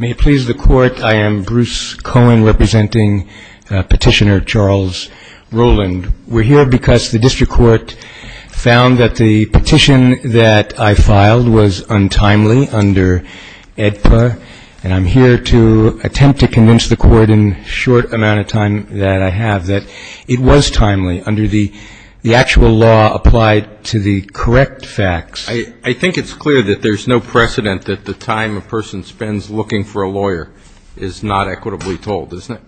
May it please the Court, I am Bruce Cohen, representing Petitioner Charles Rowland. We're here because the District Court found that the petition that I filed was untimely under AEDPA, and I'm here to attempt to convince the Court in the short amount of time that I have that it was timely under the actual law applied to the correct facts. I think it's clear that there's no precedent that the time a person spends looking for a lawyer is not equitably told, isn't it?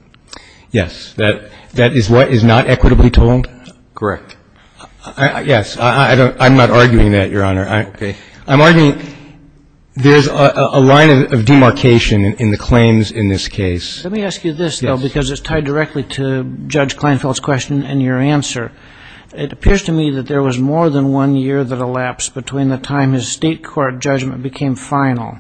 Yes. That is what is not equitably told? Correct. Yes. I'm not arguing that, Your Honor. Okay. I'm arguing there's a line of demarcation in the claims in this case. Let me ask you this, though, because it's tied directly to Judge Kleinfeld's question and your answer. It appears to me that there was more than one year that elapsed between the time his State Court judgment became final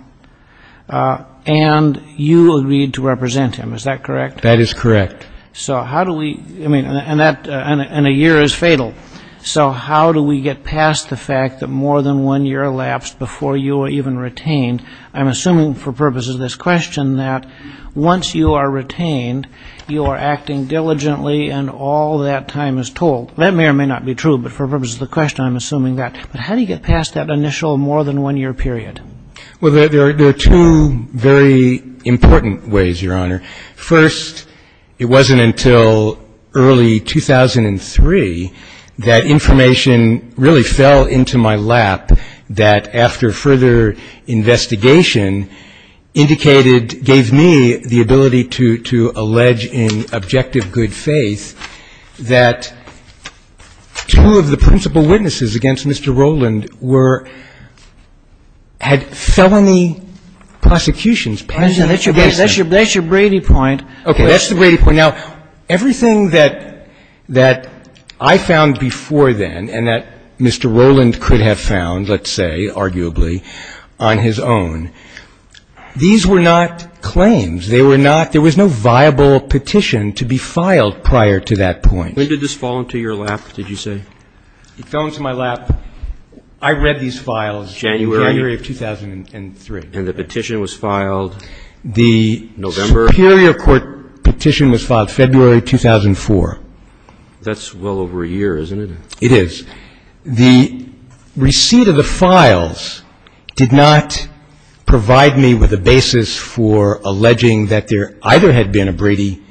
and you agreed to represent him. Is that correct? That is correct. So how do we, I mean, and a year is fatal. So how do we get past the fact that more than one year elapsed before you were even retained, you are acting diligently and all that time is told? That may or may not be true, but for the purpose of the question, I'm assuming that. But how do you get past that initial more than one year period? Well, there are two very important ways, Your Honor. First, it wasn't until early 2003 that information really fell into my lap that, after further investigation, indicated, gave me the ability to allege in objective good faith that two of the principal witnesses against Mr. Rowland were, had felony prosecutions. That's your Brady point. Okay, that's the Brady point. Now, everything that I found before then and that Mr. Rowland could have found, let's say, arguably, on his own, these were not claims. They were not, there was no viable petition to be filed prior to that point. When did this fall into your lap, did you say? It fell into my lap, I read these files January of 2003. And the petition was filed November? Superior court petition was filed February 2004. That's well over a year, isn't it? It is. The receipt of the files did not provide me with a basis for alleging that there either had been a Brady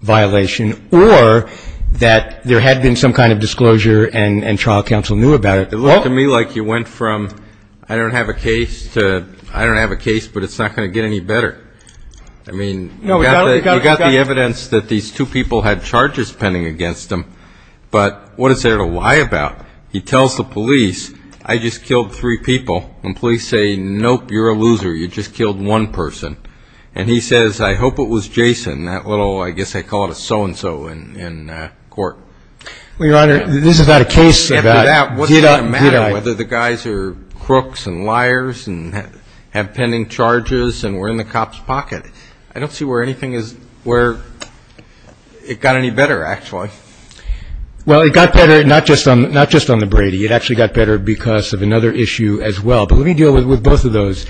violation or that there had been some kind of disclosure and trial counsel knew about it. It looked to me like you went from I don't have a case to I don't have a case but it's not going to get any better. I mean, you got the evidence that these two people had charges pending against them, but what is there to lie about? He tells the police, I just killed three people. And police say, nope, you're a loser, you just killed one person. And he says, I hope it was Jason, that little, I guess they call it a so-and-so in court. Well, Your Honor, this is not a case about did I, did I. Whether the guys are crooks and liars and have pending charges and were in the cop's pocket. I don't see where anything is where it got any better, actually. Well, it got better not just on the Brady. It actually got better because of another issue as well. But let me deal with both of those.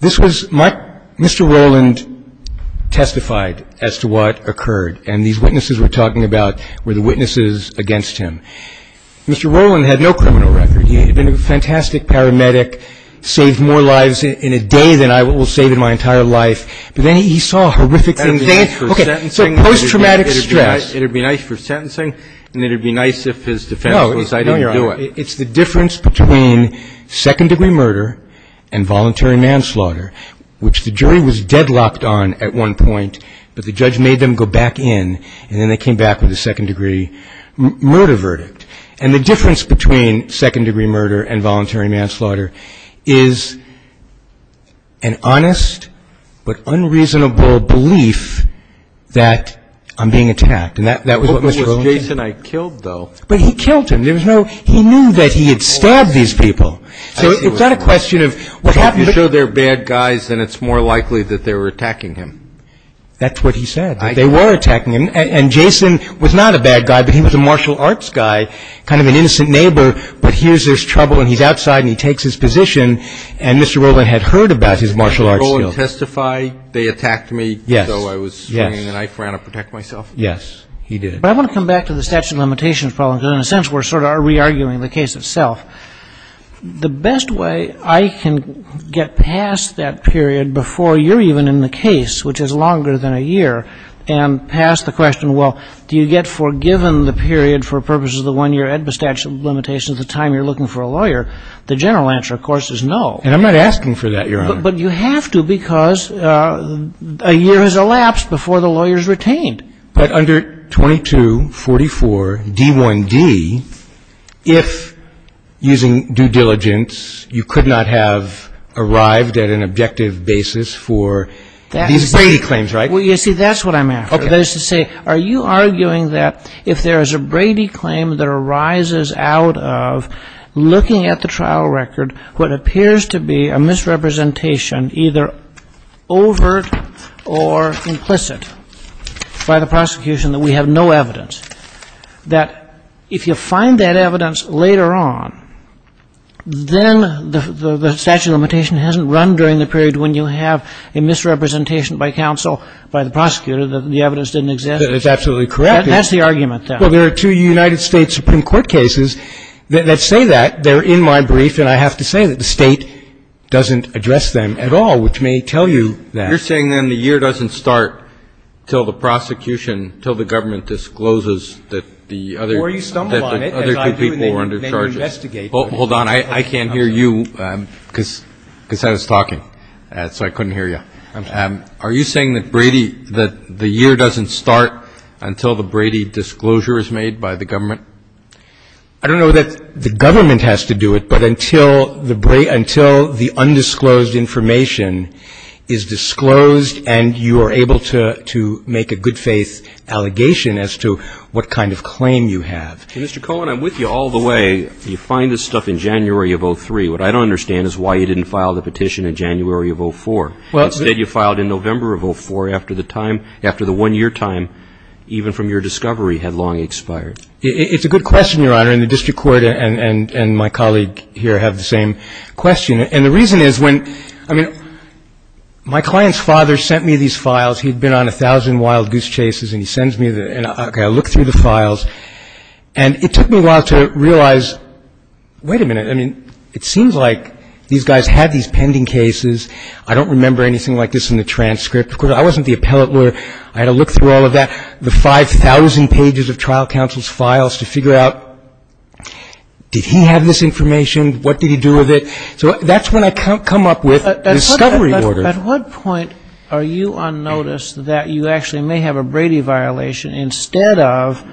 This was my, Mr. Rowland testified as to what occurred. And these witnesses we're talking about were the witnesses against him. Mr. Rowland had no criminal record. He had been a fantastic paramedic, saved more lives in a day than I will save in my entire life. But then he saw a horrific thing. Okay, so post-traumatic stress. It would be nice for sentencing, and it would be nice if his defense was, I didn't do it. It's the difference between second-degree murder and voluntary manslaughter, which the jury was deadlocked on at one point. But the judge made them go back in, and then they came back with a second-degree murder verdict. And the difference between second-degree murder and unreasonable belief that I'm being attacked. And that was what Mr. Rowland said. It was Jason I killed, though. But he killed him. There was no, he knew that he had stabbed these people. So it's not a question of what happened. If you show they're bad guys, then it's more likely that they were attacking him. That's what he said, that they were attacking him. And Jason was not a bad guy, but he was a martial arts guy, kind of an innocent neighbor. But here's his trouble, and he's outside, and he takes his position. And Mr. Rowland had heard about his martial arts skills. Did Mr. Rowland testify they attacked me, though I was swinging a knife around to protect myself? Yes, he did. But I want to come back to the statute of limitations problem, because in a sense, we're sort of re-arguing the case itself. The best way I can get past that period before you're even in the case, which is longer than a year, and pass the question, well, do you get forgiven the period for purposes of the one-year Edba statute of limitations, the time you're looking for a lawyer, the general answer, of course, is no. And I'm not asking for that, Your Honor. But you have to, because a year has elapsed before the lawyer is retained. But under 2244 D1D, if using due diligence, you could not have arrived at an objective basis for these Brady claims, right? Well, you see, that's what I'm after. That is to say, are you arguing that if there is a Brady claim that arises out of looking at the trial record, what appears to be a misrepresentation, either overt or implicit, by the prosecution that we have no evidence, that if you find that evidence later on, then the statute of limitation hasn't run during the period when you have a misrepresentation by counsel, by the prosecutor, that the evidence didn't exist? That is absolutely correct. That's the argument, then. Well, there are two United States Supreme Court cases that say that. They're in my brief, and I have to say that the State doesn't address them at all, which may tell you that. You're saying, then, the year doesn't start until the prosecution, until the government discloses that the other two people were under charges. Or you stumble on it, as I do, and they investigate. Hold on. I can't hear you because I was talking, so I couldn't hear you. Are you saying that Brady, that the year doesn't start until the Brady disclosure is made by the government? I don't know that the government has to do it, but until the undisclosed information is disclosed and you are able to make a good faith allegation as to what kind of claim you have. Mr. Cohen, I'm with you all the way. You find this stuff in January of 2003. What I don't understand is why you didn't file the petition in January of 2004. Instead, you filed in November of 2004 after the time, after the one-year time, even from your discovery, had long expired. It's a good question, Your Honor, and the district court and my colleague here have the same question. And the reason is when, I mean, my client's father sent me these files. He'd been on a thousand wild goose chases, and he sends me the, okay, I look through the files. And it took me a while to realize, wait a minute, I mean, it seems like these guys had these pending cases. I don't remember anything like this in the transcript. Of course, I wasn't the appellate lawyer. I had to look through all of that. The 5,000 pages of trial counsel's files to figure out, did he have this information? What did he do with it? So that's when I come up with discovery orders. At what point are you unnoticed that you actually may have a Brady violation instead of,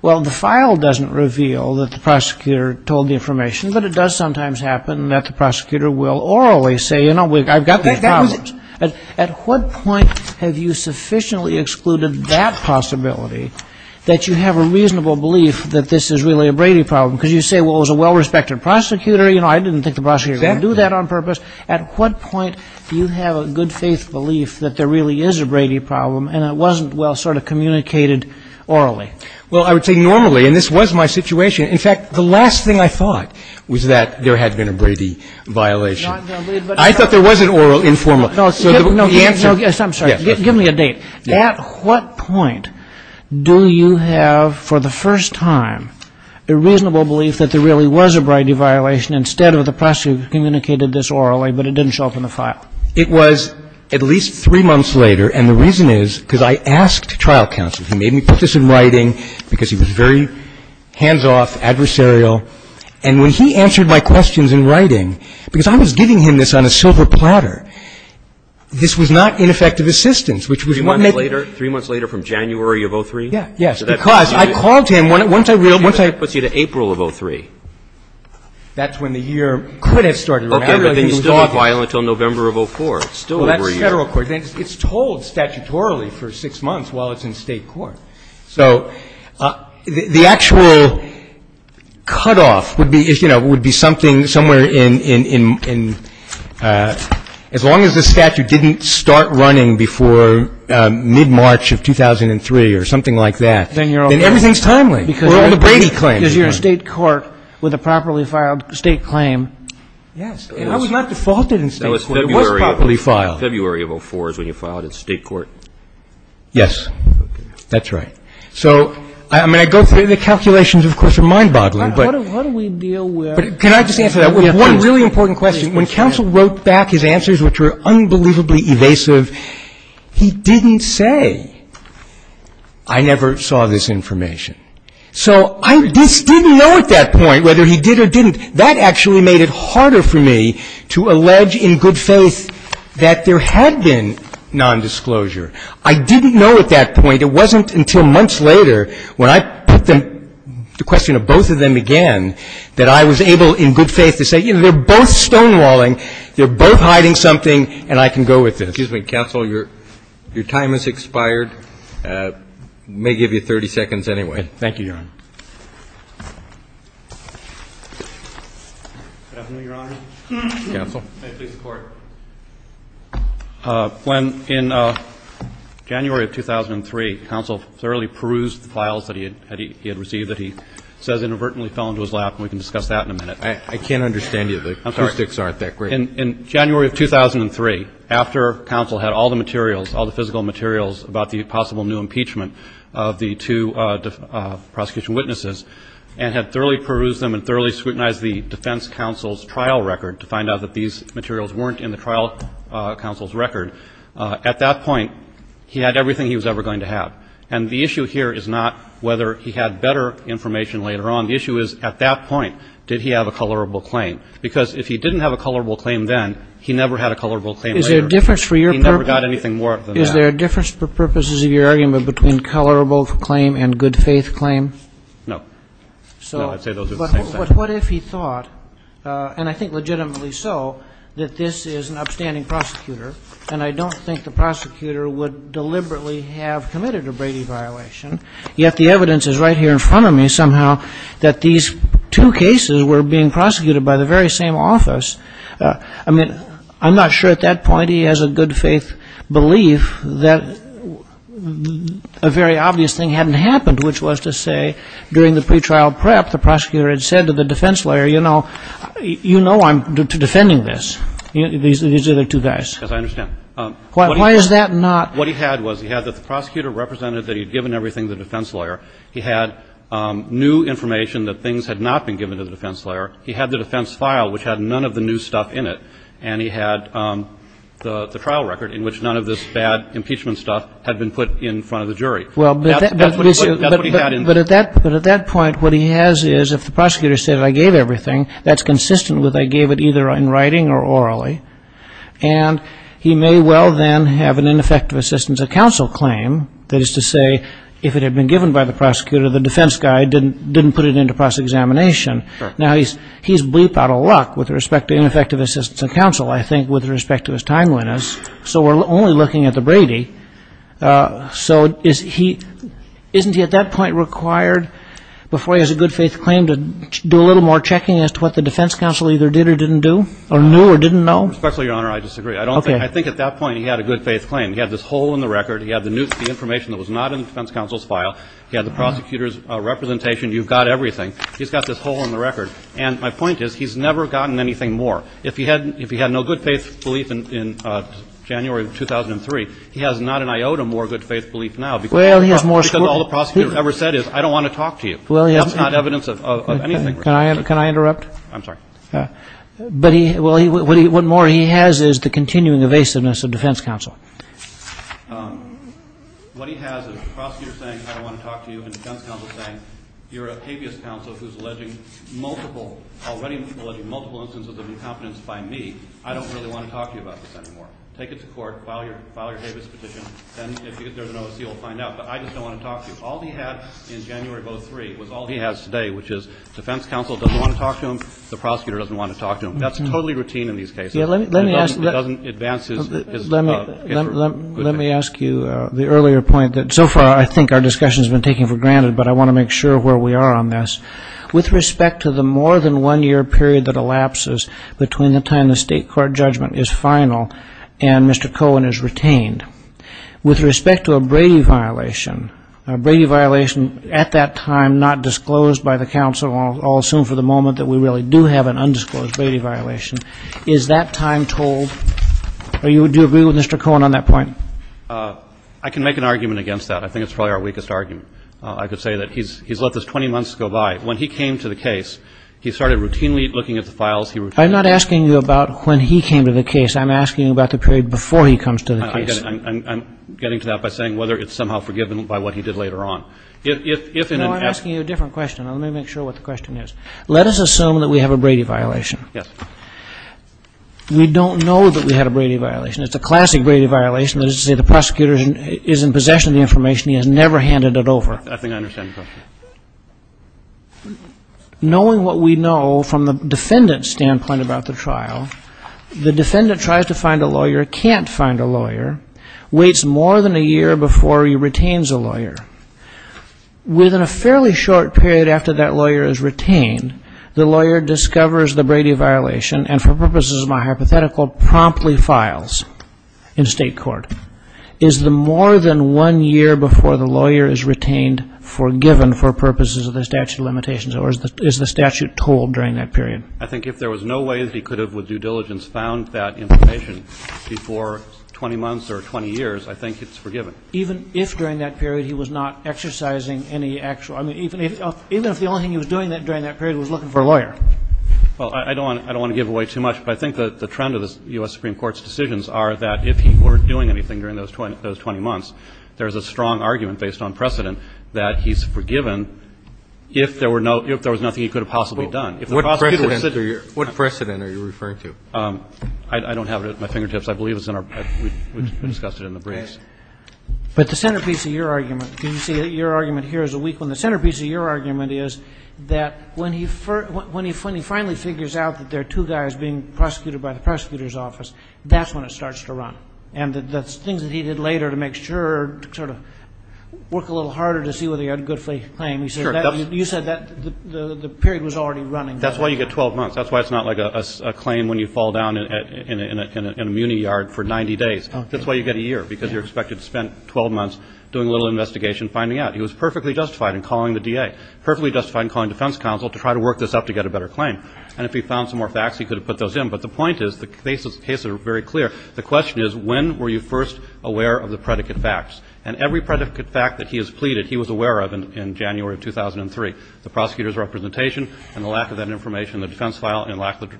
well, the file doesn't reveal that the prosecutor told the information. But it does sometimes happen that the prosecutor will orally say, you know, I've got these problems. At what point have you sufficiently excluded that possibility that you have a reasonable belief that this is really a Brady problem because you say, well, it was a well-respected prosecutor. You know, I didn't think the prosecutor would do that on purpose. At what point do you have a good faith belief that there really is a Brady problem and it wasn't well sort of communicated orally? Well, I would say normally, and this was my situation. In fact, the last thing I thought was that there had been a Brady violation. I thought there was an oral informal. No, no, I'm sorry, give me a date. At what point do you have, for the first time, a reasonable belief that there really was a Brady violation instead of the prosecutor who communicated this orally, but it didn't show up in the file? It was at least three months later. And the reason is because I asked trial counsel. He made me put this in writing because he was very hands-off, adversarial. And when he answered my questions in writing, because I was giving him this on a silver platter, this was not ineffective assistance, which was what made me. Three months later, from January of 2003? Yes, yes, because I called him once I reeled, once I reeled. That puts you to April of 2003. That's when the year could have started. Okay, but then you still have violence until November of 2004. It's still over a year. Well, that's Federal court. It's told statutorily for six months while it's in State court. So the actual cutoff would be, you know, would be something somewhere in as long as the statute didn't start running before mid-March of 2003 or something like that, then everything's timely. We're on the Brady claim. Because you're in State court with a properly filed State claim. Yes. And I was not defaulted in State court. It was properly filed. February of 2004 is when you filed in State court. Yes. That's right. So, I mean, I go through the calculations, of course, are mind-boggling, but can I just answer that? One really important question. When counsel wrote back his answers, which were unbelievably evasive, he didn't say, I never saw this information. So I just didn't know at that point whether he did or didn't. That actually made it harder for me to allege in good faith that there had been nondisclosure. I didn't know at that point. It wasn't until months later when I put the question to both of them again that I was able in good faith to say, you know, they're both stonewalling, they're both hiding something, and I can go with this. Excuse me, counsel, your time has expired. May give you 30 seconds anyway. Thank you, Your Honor. Definitely, Your Honor. Counsel. May it please the Court. When, in January of 2003, counsel thoroughly perused the files that he had received that he says inadvertently fell into his lap, and we can discuss that in a minute. I can't understand you. The statistics aren't that great. In January of 2003, after counsel had all the materials, all the physical materials about the possible new impeachment of the two prosecutorial and had thoroughly perused them and thoroughly scrutinized the defense counsel's trial record to find out that these materials weren't in the trial counsel's record, at that point, he had everything he was ever going to have. And the issue here is not whether he had better information later on. The issue is, at that point, did he have a colorable claim? Because if he didn't have a colorable claim then, he never had a colorable claim later. Is there a difference for your purpose? He never got anything more than that. Is there a difference for purposes of your argument between colorable claim and good faith claim? No. No, I'd say those are the same thing. But what if he thought, and I think legitimately so, that this is an upstanding prosecutor, and I don't think the prosecutor would deliberately have committed a Brady violation, yet the evidence is right here in front of me somehow that these two cases were being prosecuted by the very same office. I mean, I'm not sure at that point he has a good faith belief that a very obvious thing hadn't happened, which was to say, during the pretrial prep, the prosecutor had said to the defense lawyer, you know, you know I'm defending this. These are the two guys. Yes, I understand. Why is that not? What he had was, he had that the prosecutor represented that he had given everything to the defense lawyer. He had new information that things had not been given to the defense lawyer. He had the defense file, which had none of the new stuff in it. And he had the trial record in which none of this bad impeachment stuff had been put in front of the jury. That's what he had in there. But at that point, what he has is, if the prosecutor said I gave everything, that's consistent with I gave it either in writing or orally. And he may well then have an ineffective assistance of counsel claim, that is to say, if it had been given by the prosecutor, the defense guy didn't put it into process examination. Now he's bleep out of luck with respect to ineffective assistance of counsel, I think, with respect to his time witness. So we're only looking at the Brady. So isn't he at that point required, before he has a good faith claim, to do a little more checking as to what the defense counsel either did or didn't do or knew or didn't know? Respectfully, Your Honor, I disagree. I think at that point he had a good faith claim. He had this hole in the record. He had the information that was not in the defense counsel's file. He had the prosecutor's representation. You've got everything. He's got this hole in the record. And my point is he's never gotten anything more. If he had no good faith belief in January of 2003, he has not an iota more good faith belief now. Because all the prosecutor ever said is I don't want to talk to you. That's not evidence of anything. Can I interrupt? I'm sorry. But what more he has is the continuing evasiveness of defense counsel. What he has is the prosecutor saying I don't want to talk to you and the defense counsel saying you're a habeas counsel who's alleging multiple, already alleging multiple instances of incompetence by me. I don't really want to talk to you about this anymore. Take it to court. File your habeas petition. And if there's an OSC, you'll find out. But I just don't want to talk to you. All he had in January of 2003 was all he has today, which is the defense counsel doesn't want to talk to him. The prosecutor doesn't want to talk to him. That's totally routine in these cases. Let me ask you the earlier point that so far I think our discussion has been taken for granted, but I want to make sure where we are on this. With respect to the more than one-year period that elapses between the time the state court judgment is final and Mr. Cohen is retained, with respect to a Brady violation, a Brady violation at that time not disclosed by the counsel, I'll assume for the moment that we really do have an undisclosed Brady violation, is that time told? Do you agree with Mr. Cohen on that point? I can make an argument against that. I think it's probably our weakest argument. I could say that he's let this 20 months go by. When he came to the case, he started routinely looking at the files. I'm not asking you about when he came to the case. I'm asking you about the period before he comes to the case. I'm getting to that by saying whether it's somehow forgiven by what he did later on. No, I'm asking you a different question. Let me make sure what the question is. Let us assume that we have a Brady violation. Yes. We don't know that we had a Brady violation. It's a classic Brady violation. That is to say the prosecutor is in possession of the information. He has never handed it over. I think I understand the question. Knowing what we know from the defendant's standpoint about the trial, the defendant tries to find a lawyer, can't find a lawyer, waits more than a year before he retains a lawyer. Within a fairly short period after that lawyer is retained, the lawyer discovers the Brady violation and for purposes of my hypothetical promptly files in state court. Is the more than one year before the lawyer is retained forgiven for purposes of the statute of limitations or is the statute told during that period? I think if there was no way that he could have with due diligence found that information before 20 months or 20 years, I think it's forgiven. Even if during that period he was not exercising any actual, I mean, even if the only thing he was doing during that period was looking for a lawyer? Well, I don't want to give away too much, but I think the trend of the U.S. Supreme Court's decisions are that if he weren't doing anything during those 20 months, there's a strong argument based on precedent that he's forgiven if there were no, if there was nothing he could have possibly done. What precedent are you referring to? I don't have it at my fingertips. I believe it's in our, we discussed it in the briefs. But the centerpiece of your argument, because you see your argument here is a weak one. The centerpiece of your argument is that when he finally figures out that there are two guys being prosecuted by the prosecutor's office, that's when it starts to run. And the things that he did later to make sure to sort of work a little harder to see whether he had a good claim, you said that the period was already running. That's why you get 12 months. That's why it's not like a claim when you fall down in a muni yard for 90 days. That's why you get a year, because you're expected to spend 12 months doing a little investigation, finding out. He was perfectly justified in calling the DA, perfectly justified in calling defense counsel to try to work this up to get a better claim. And if he found some more facts, he could have put those in. But the point is, the cases are very clear. The question is, when were you first aware of the predicate facts? And every predicate fact that he has pleaded, he was aware of in January of 2003, the prosecutor's representation and the lack of that information in the defense file and the lack of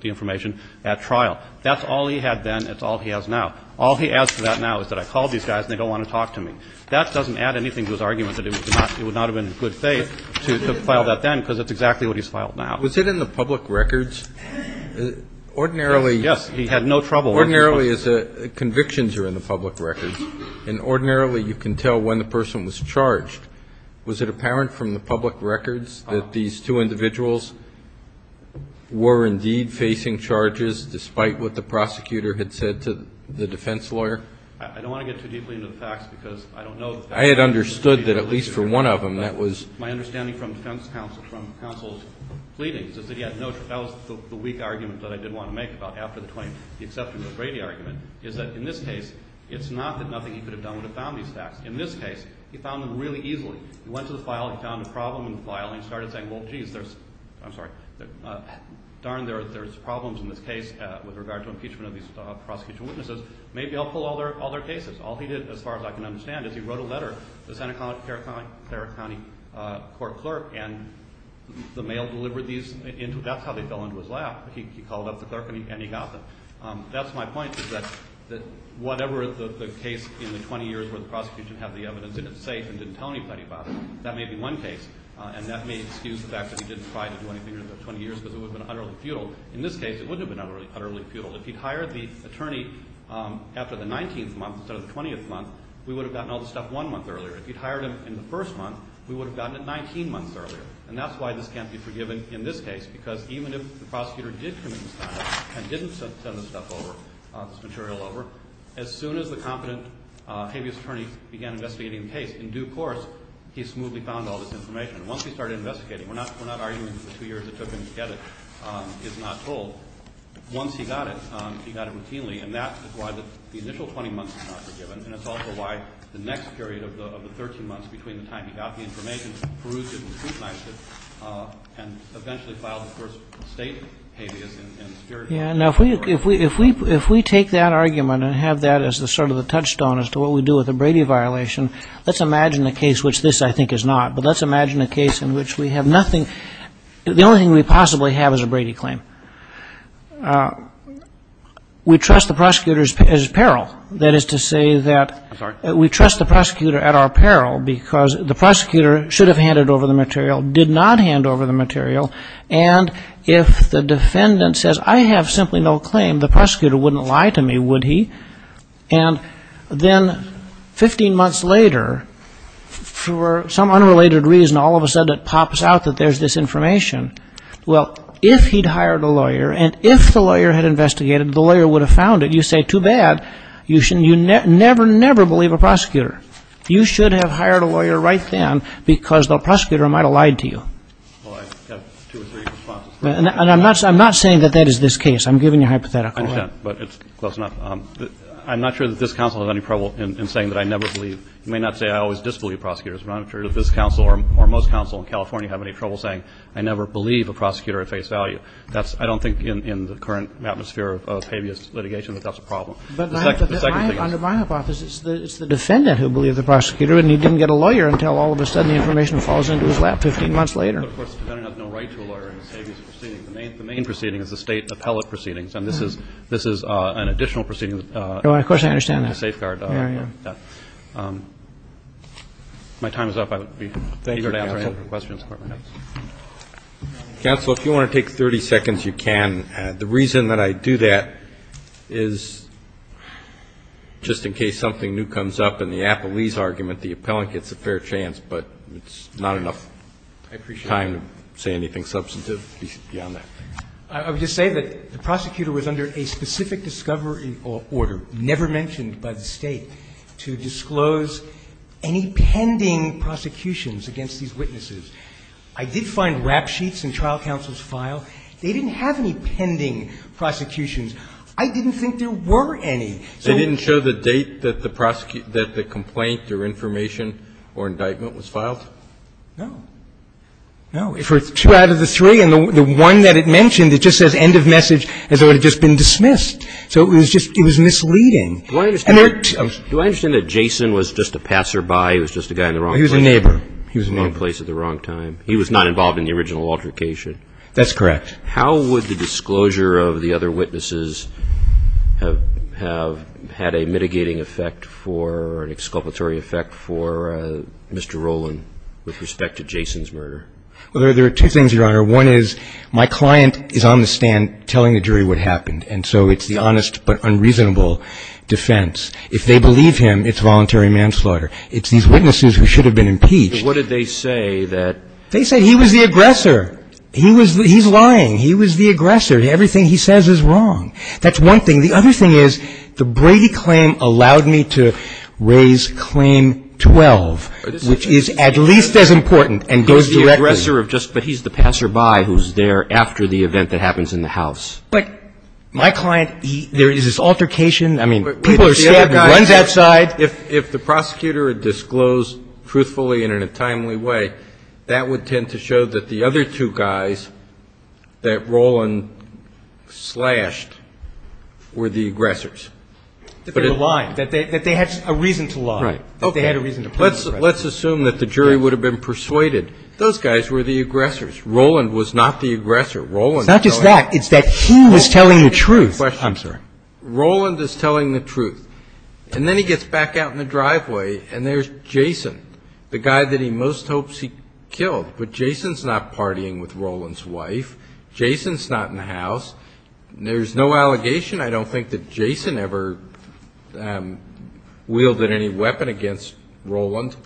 the information at trial. That's all he had then. It's all he has now. All he adds to that now is that I called these guys and they don't want to talk to me. That doesn't add anything to his argument that it would not have been in good faith to file that then, because it's exactly what he's filed now. Kennedy. Was it in the public records? Ordinarily he had no trouble. Ordinarily convictions are in the public records. And ordinarily you can tell when the person was charged. Was it apparent from the public records that these two individuals were indeed facing charges, despite what the prosecutor had said to the defense lawyer? I don't want to get too deeply into the facts, because I don't know the facts. I had understood that at least for one of them that was. My understanding from defense counsel, from counsel's pleadings, is that he had no trouble. That was the weak argument that I did want to make about after the 20th, the exception to the Brady argument, is that in this case, it's not that nothing he could have done would have found these facts. In this case, he found them really easily. He went to the file, he found a problem in the file, and he started saying, well, jeez, there's, I'm sorry, darn, there's problems in this case with regard to impeachment of these prosecution witnesses. Maybe I'll pull all their cases. All he did, as far as I can understand, is he wrote a letter to the Santa Clara County court clerk, and the mail delivered these. That's how they fell into his lap. He called up the clerk, and he got them. That's my point, is that whatever the case in the 20 years where the prosecution had the evidence in it safe and didn't tell anybody about it, that may be one case, and that may excuse the fact that he didn't try to do anything in the 20 years, because it would have been utterly futile. In this case, it wouldn't have been utterly futile. If he'd hired the attorney after the 19th month instead of the 20th month, we would have gotten all this stuff one month earlier. If he'd hired him in the first month, we would have gotten it 19 months earlier, and that's why this can't be forgiven in this case, because even if the prosecutor did commit misconduct and didn't send this stuff over, this material over, as soon as the competent habeas attorney began investigating the case, in due course, he smoothly found all this information. Once he started investigating, we're not arguing that the two years it took him to get it is not told. Once he got it, he got it routinely, and that is why the initial 20 months is not forgiven, and it's also why the next period of the 13 months between the time he got the information, he perused it and scrutinized it, and eventually filed, of course, state habeas. Yeah. Now, if we take that argument and have that as sort of the touchstone as to what we do with a Brady violation, let's imagine a case which this, I think, is not, but let's imagine a case in which we have nothing. The only thing we possibly have is a Brady claim. We trust the prosecutor's peril. That is to say that we trust the prosecutor at our peril because the prosecutor should have handed over the material, did not hand over the material, and if the defendant says, I have simply no claim, the prosecutor wouldn't lie to me, would he? And then 15 months later, for some unrelated reason, all of a sudden it pops out that there's this information. Well, if he'd hired a lawyer and if the lawyer had investigated, the lawyer would have found it. You say, too bad. You never, never believe a prosecutor. You should have hired a lawyer right then because the prosecutor might have lied to you. Well, I have two or three responses to that. And I'm not saying that that is this case. I'm giving you a hypothetical. I understand, but it's close enough. I'm not sure that this counsel has any trouble in saying that I never believe. You may not say I always disbelieve prosecutors, but I'm not sure that this counsel or most counsel in California have any trouble saying, I never believe a prosecutor at face value. I don't think in the current atmosphere of habeas litigation that that's a problem. But under my hypothesis, it's the defendant who believed the prosecutor and he didn't get a lawyer until all of a sudden the information falls into his lap 15 months later. But, of course, the defendant has no right to a lawyer in a habeas proceeding. The main proceeding is the State appellate proceedings. And this is an additional proceeding. Of course, I understand that. In the safeguard area. Yeah. If my time is up, I would be eager to answer any questions. Thank you, counsel. Counsel, if you want to take 30 seconds, you can. The reason that I do that is just in case something new comes up in the Appellee's argument, the appellant gets a fair chance, but it's not enough time to say anything substantive beyond that. I would just say that the prosecutor was under a specific discovery order, never mentioned by the State, to disclose any pending prosecutions against these witnesses. I did find rap sheets in trial counsel's file. They didn't have any pending prosecutions. I didn't think there were any. They didn't show the date that the complaint or information or indictment was filed? No. No. For two out of the three, and the one that it mentioned, it just says end of message as though it had just been dismissed. So it was misleading. Do I understand that Jason was just a passerby, he was just a guy in the wrong place? He was a neighbor. He was in the wrong place at the wrong time. He was not involved in the original altercation. That's correct. How would the disclosure of the other witnesses have had a mitigating effect for, an exculpatory effect for Mr. Rowland with respect to Jason's murder? Well, there are two things, Your Honor. One is my client is on the stand telling the jury what happened, and so it's the honest but unreasonable defense. If they believe him, it's voluntary manslaughter. It's these witnesses who should have been impeached. But what did they say that? They said he was the aggressor. He's lying. He was the aggressor. Everything he says is wrong. That's one thing. The other thing is the Brady claim allowed me to raise Claim 12, which is at least as important and goes directly. He's the aggressor, but he's the passerby who's there after the event that happens in the house. But my client, there is this altercation. I mean, people are scared. He runs outside. If the prosecutor had disclosed truthfully and in a timely way, that would tend to show that the other two guys that Roland slashed were the aggressors. That they were lying. That they had a reason to lie. Right. That they had a reason to play the aggressor. Let's assume that the jury would have been persuaded. Those guys were the aggressors. Roland was not the aggressor. Not just that. It's that he was telling the truth. I'm sorry. Roland is telling the truth. And then he gets back out in the driveway, and there's Jason, the guy that he most hopes he killed. But Jason's not partying with Roland's wife. Jason's not in the house. There's no allegation. I don't think that Jason ever wielded any weapon against Roland.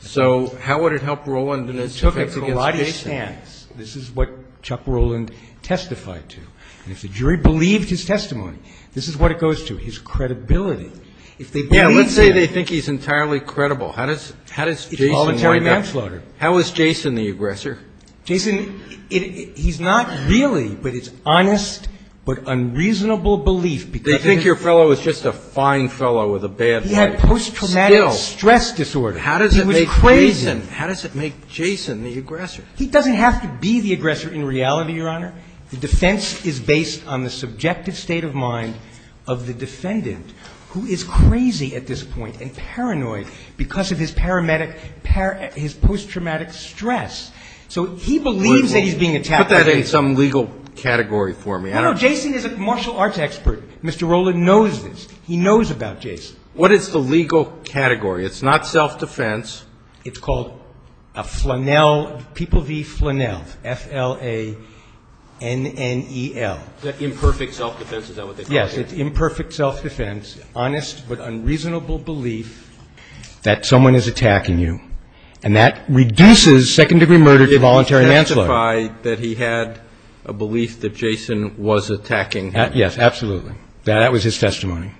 So how would it help Roland in his defense against Jason? It took a collage stance. This is what Chuck Roland testified to. And if the jury believed his testimony, this is what it goes to. His credibility. If they believed him. Yeah, let's say they think he's entirely credible. How does Jason wind up? How is Jason the aggressor? Jason, he's not really, but it's honest but unreasonable belief. They think your fellow is just a fine fellow with a bad head. He had post-traumatic stress disorder. He was crazy. How does it make Jason the aggressor? He doesn't have to be the aggressor in reality, Your Honor. The defense is based on the subjective state of mind of the defendant, who is crazy at this point and paranoid because of his post-traumatic stress. So he believes that he's being attacked. Put that in some legal category for me. No, Jason is a martial arts expert. Mr. Roland knows this. He knows about Jason. What is the legal category? It's not self-defense. It's called a flannel, people v. flannel, F-L-A-N-N-E-L. Is that imperfect self-defense? Is that what they call it? Yes, it's imperfect self-defense. The defense is based on the subjective state of mind of the defendant. The defense is based on his honest but unreasonable belief that someone is attacking you, and that reduces second-degree murder to voluntary manslaughter. Can you verify that he had a belief that Jason was attacking him? Yes, absolutely. That was his testimony.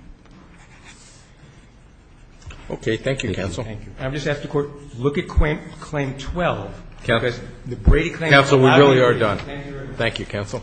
Okay. Thank you, counsel. Thank you. I would just ask the Court to look at Claim 12. Counsel, we really are done. Thank you, Your Honor. Thank you, counsel.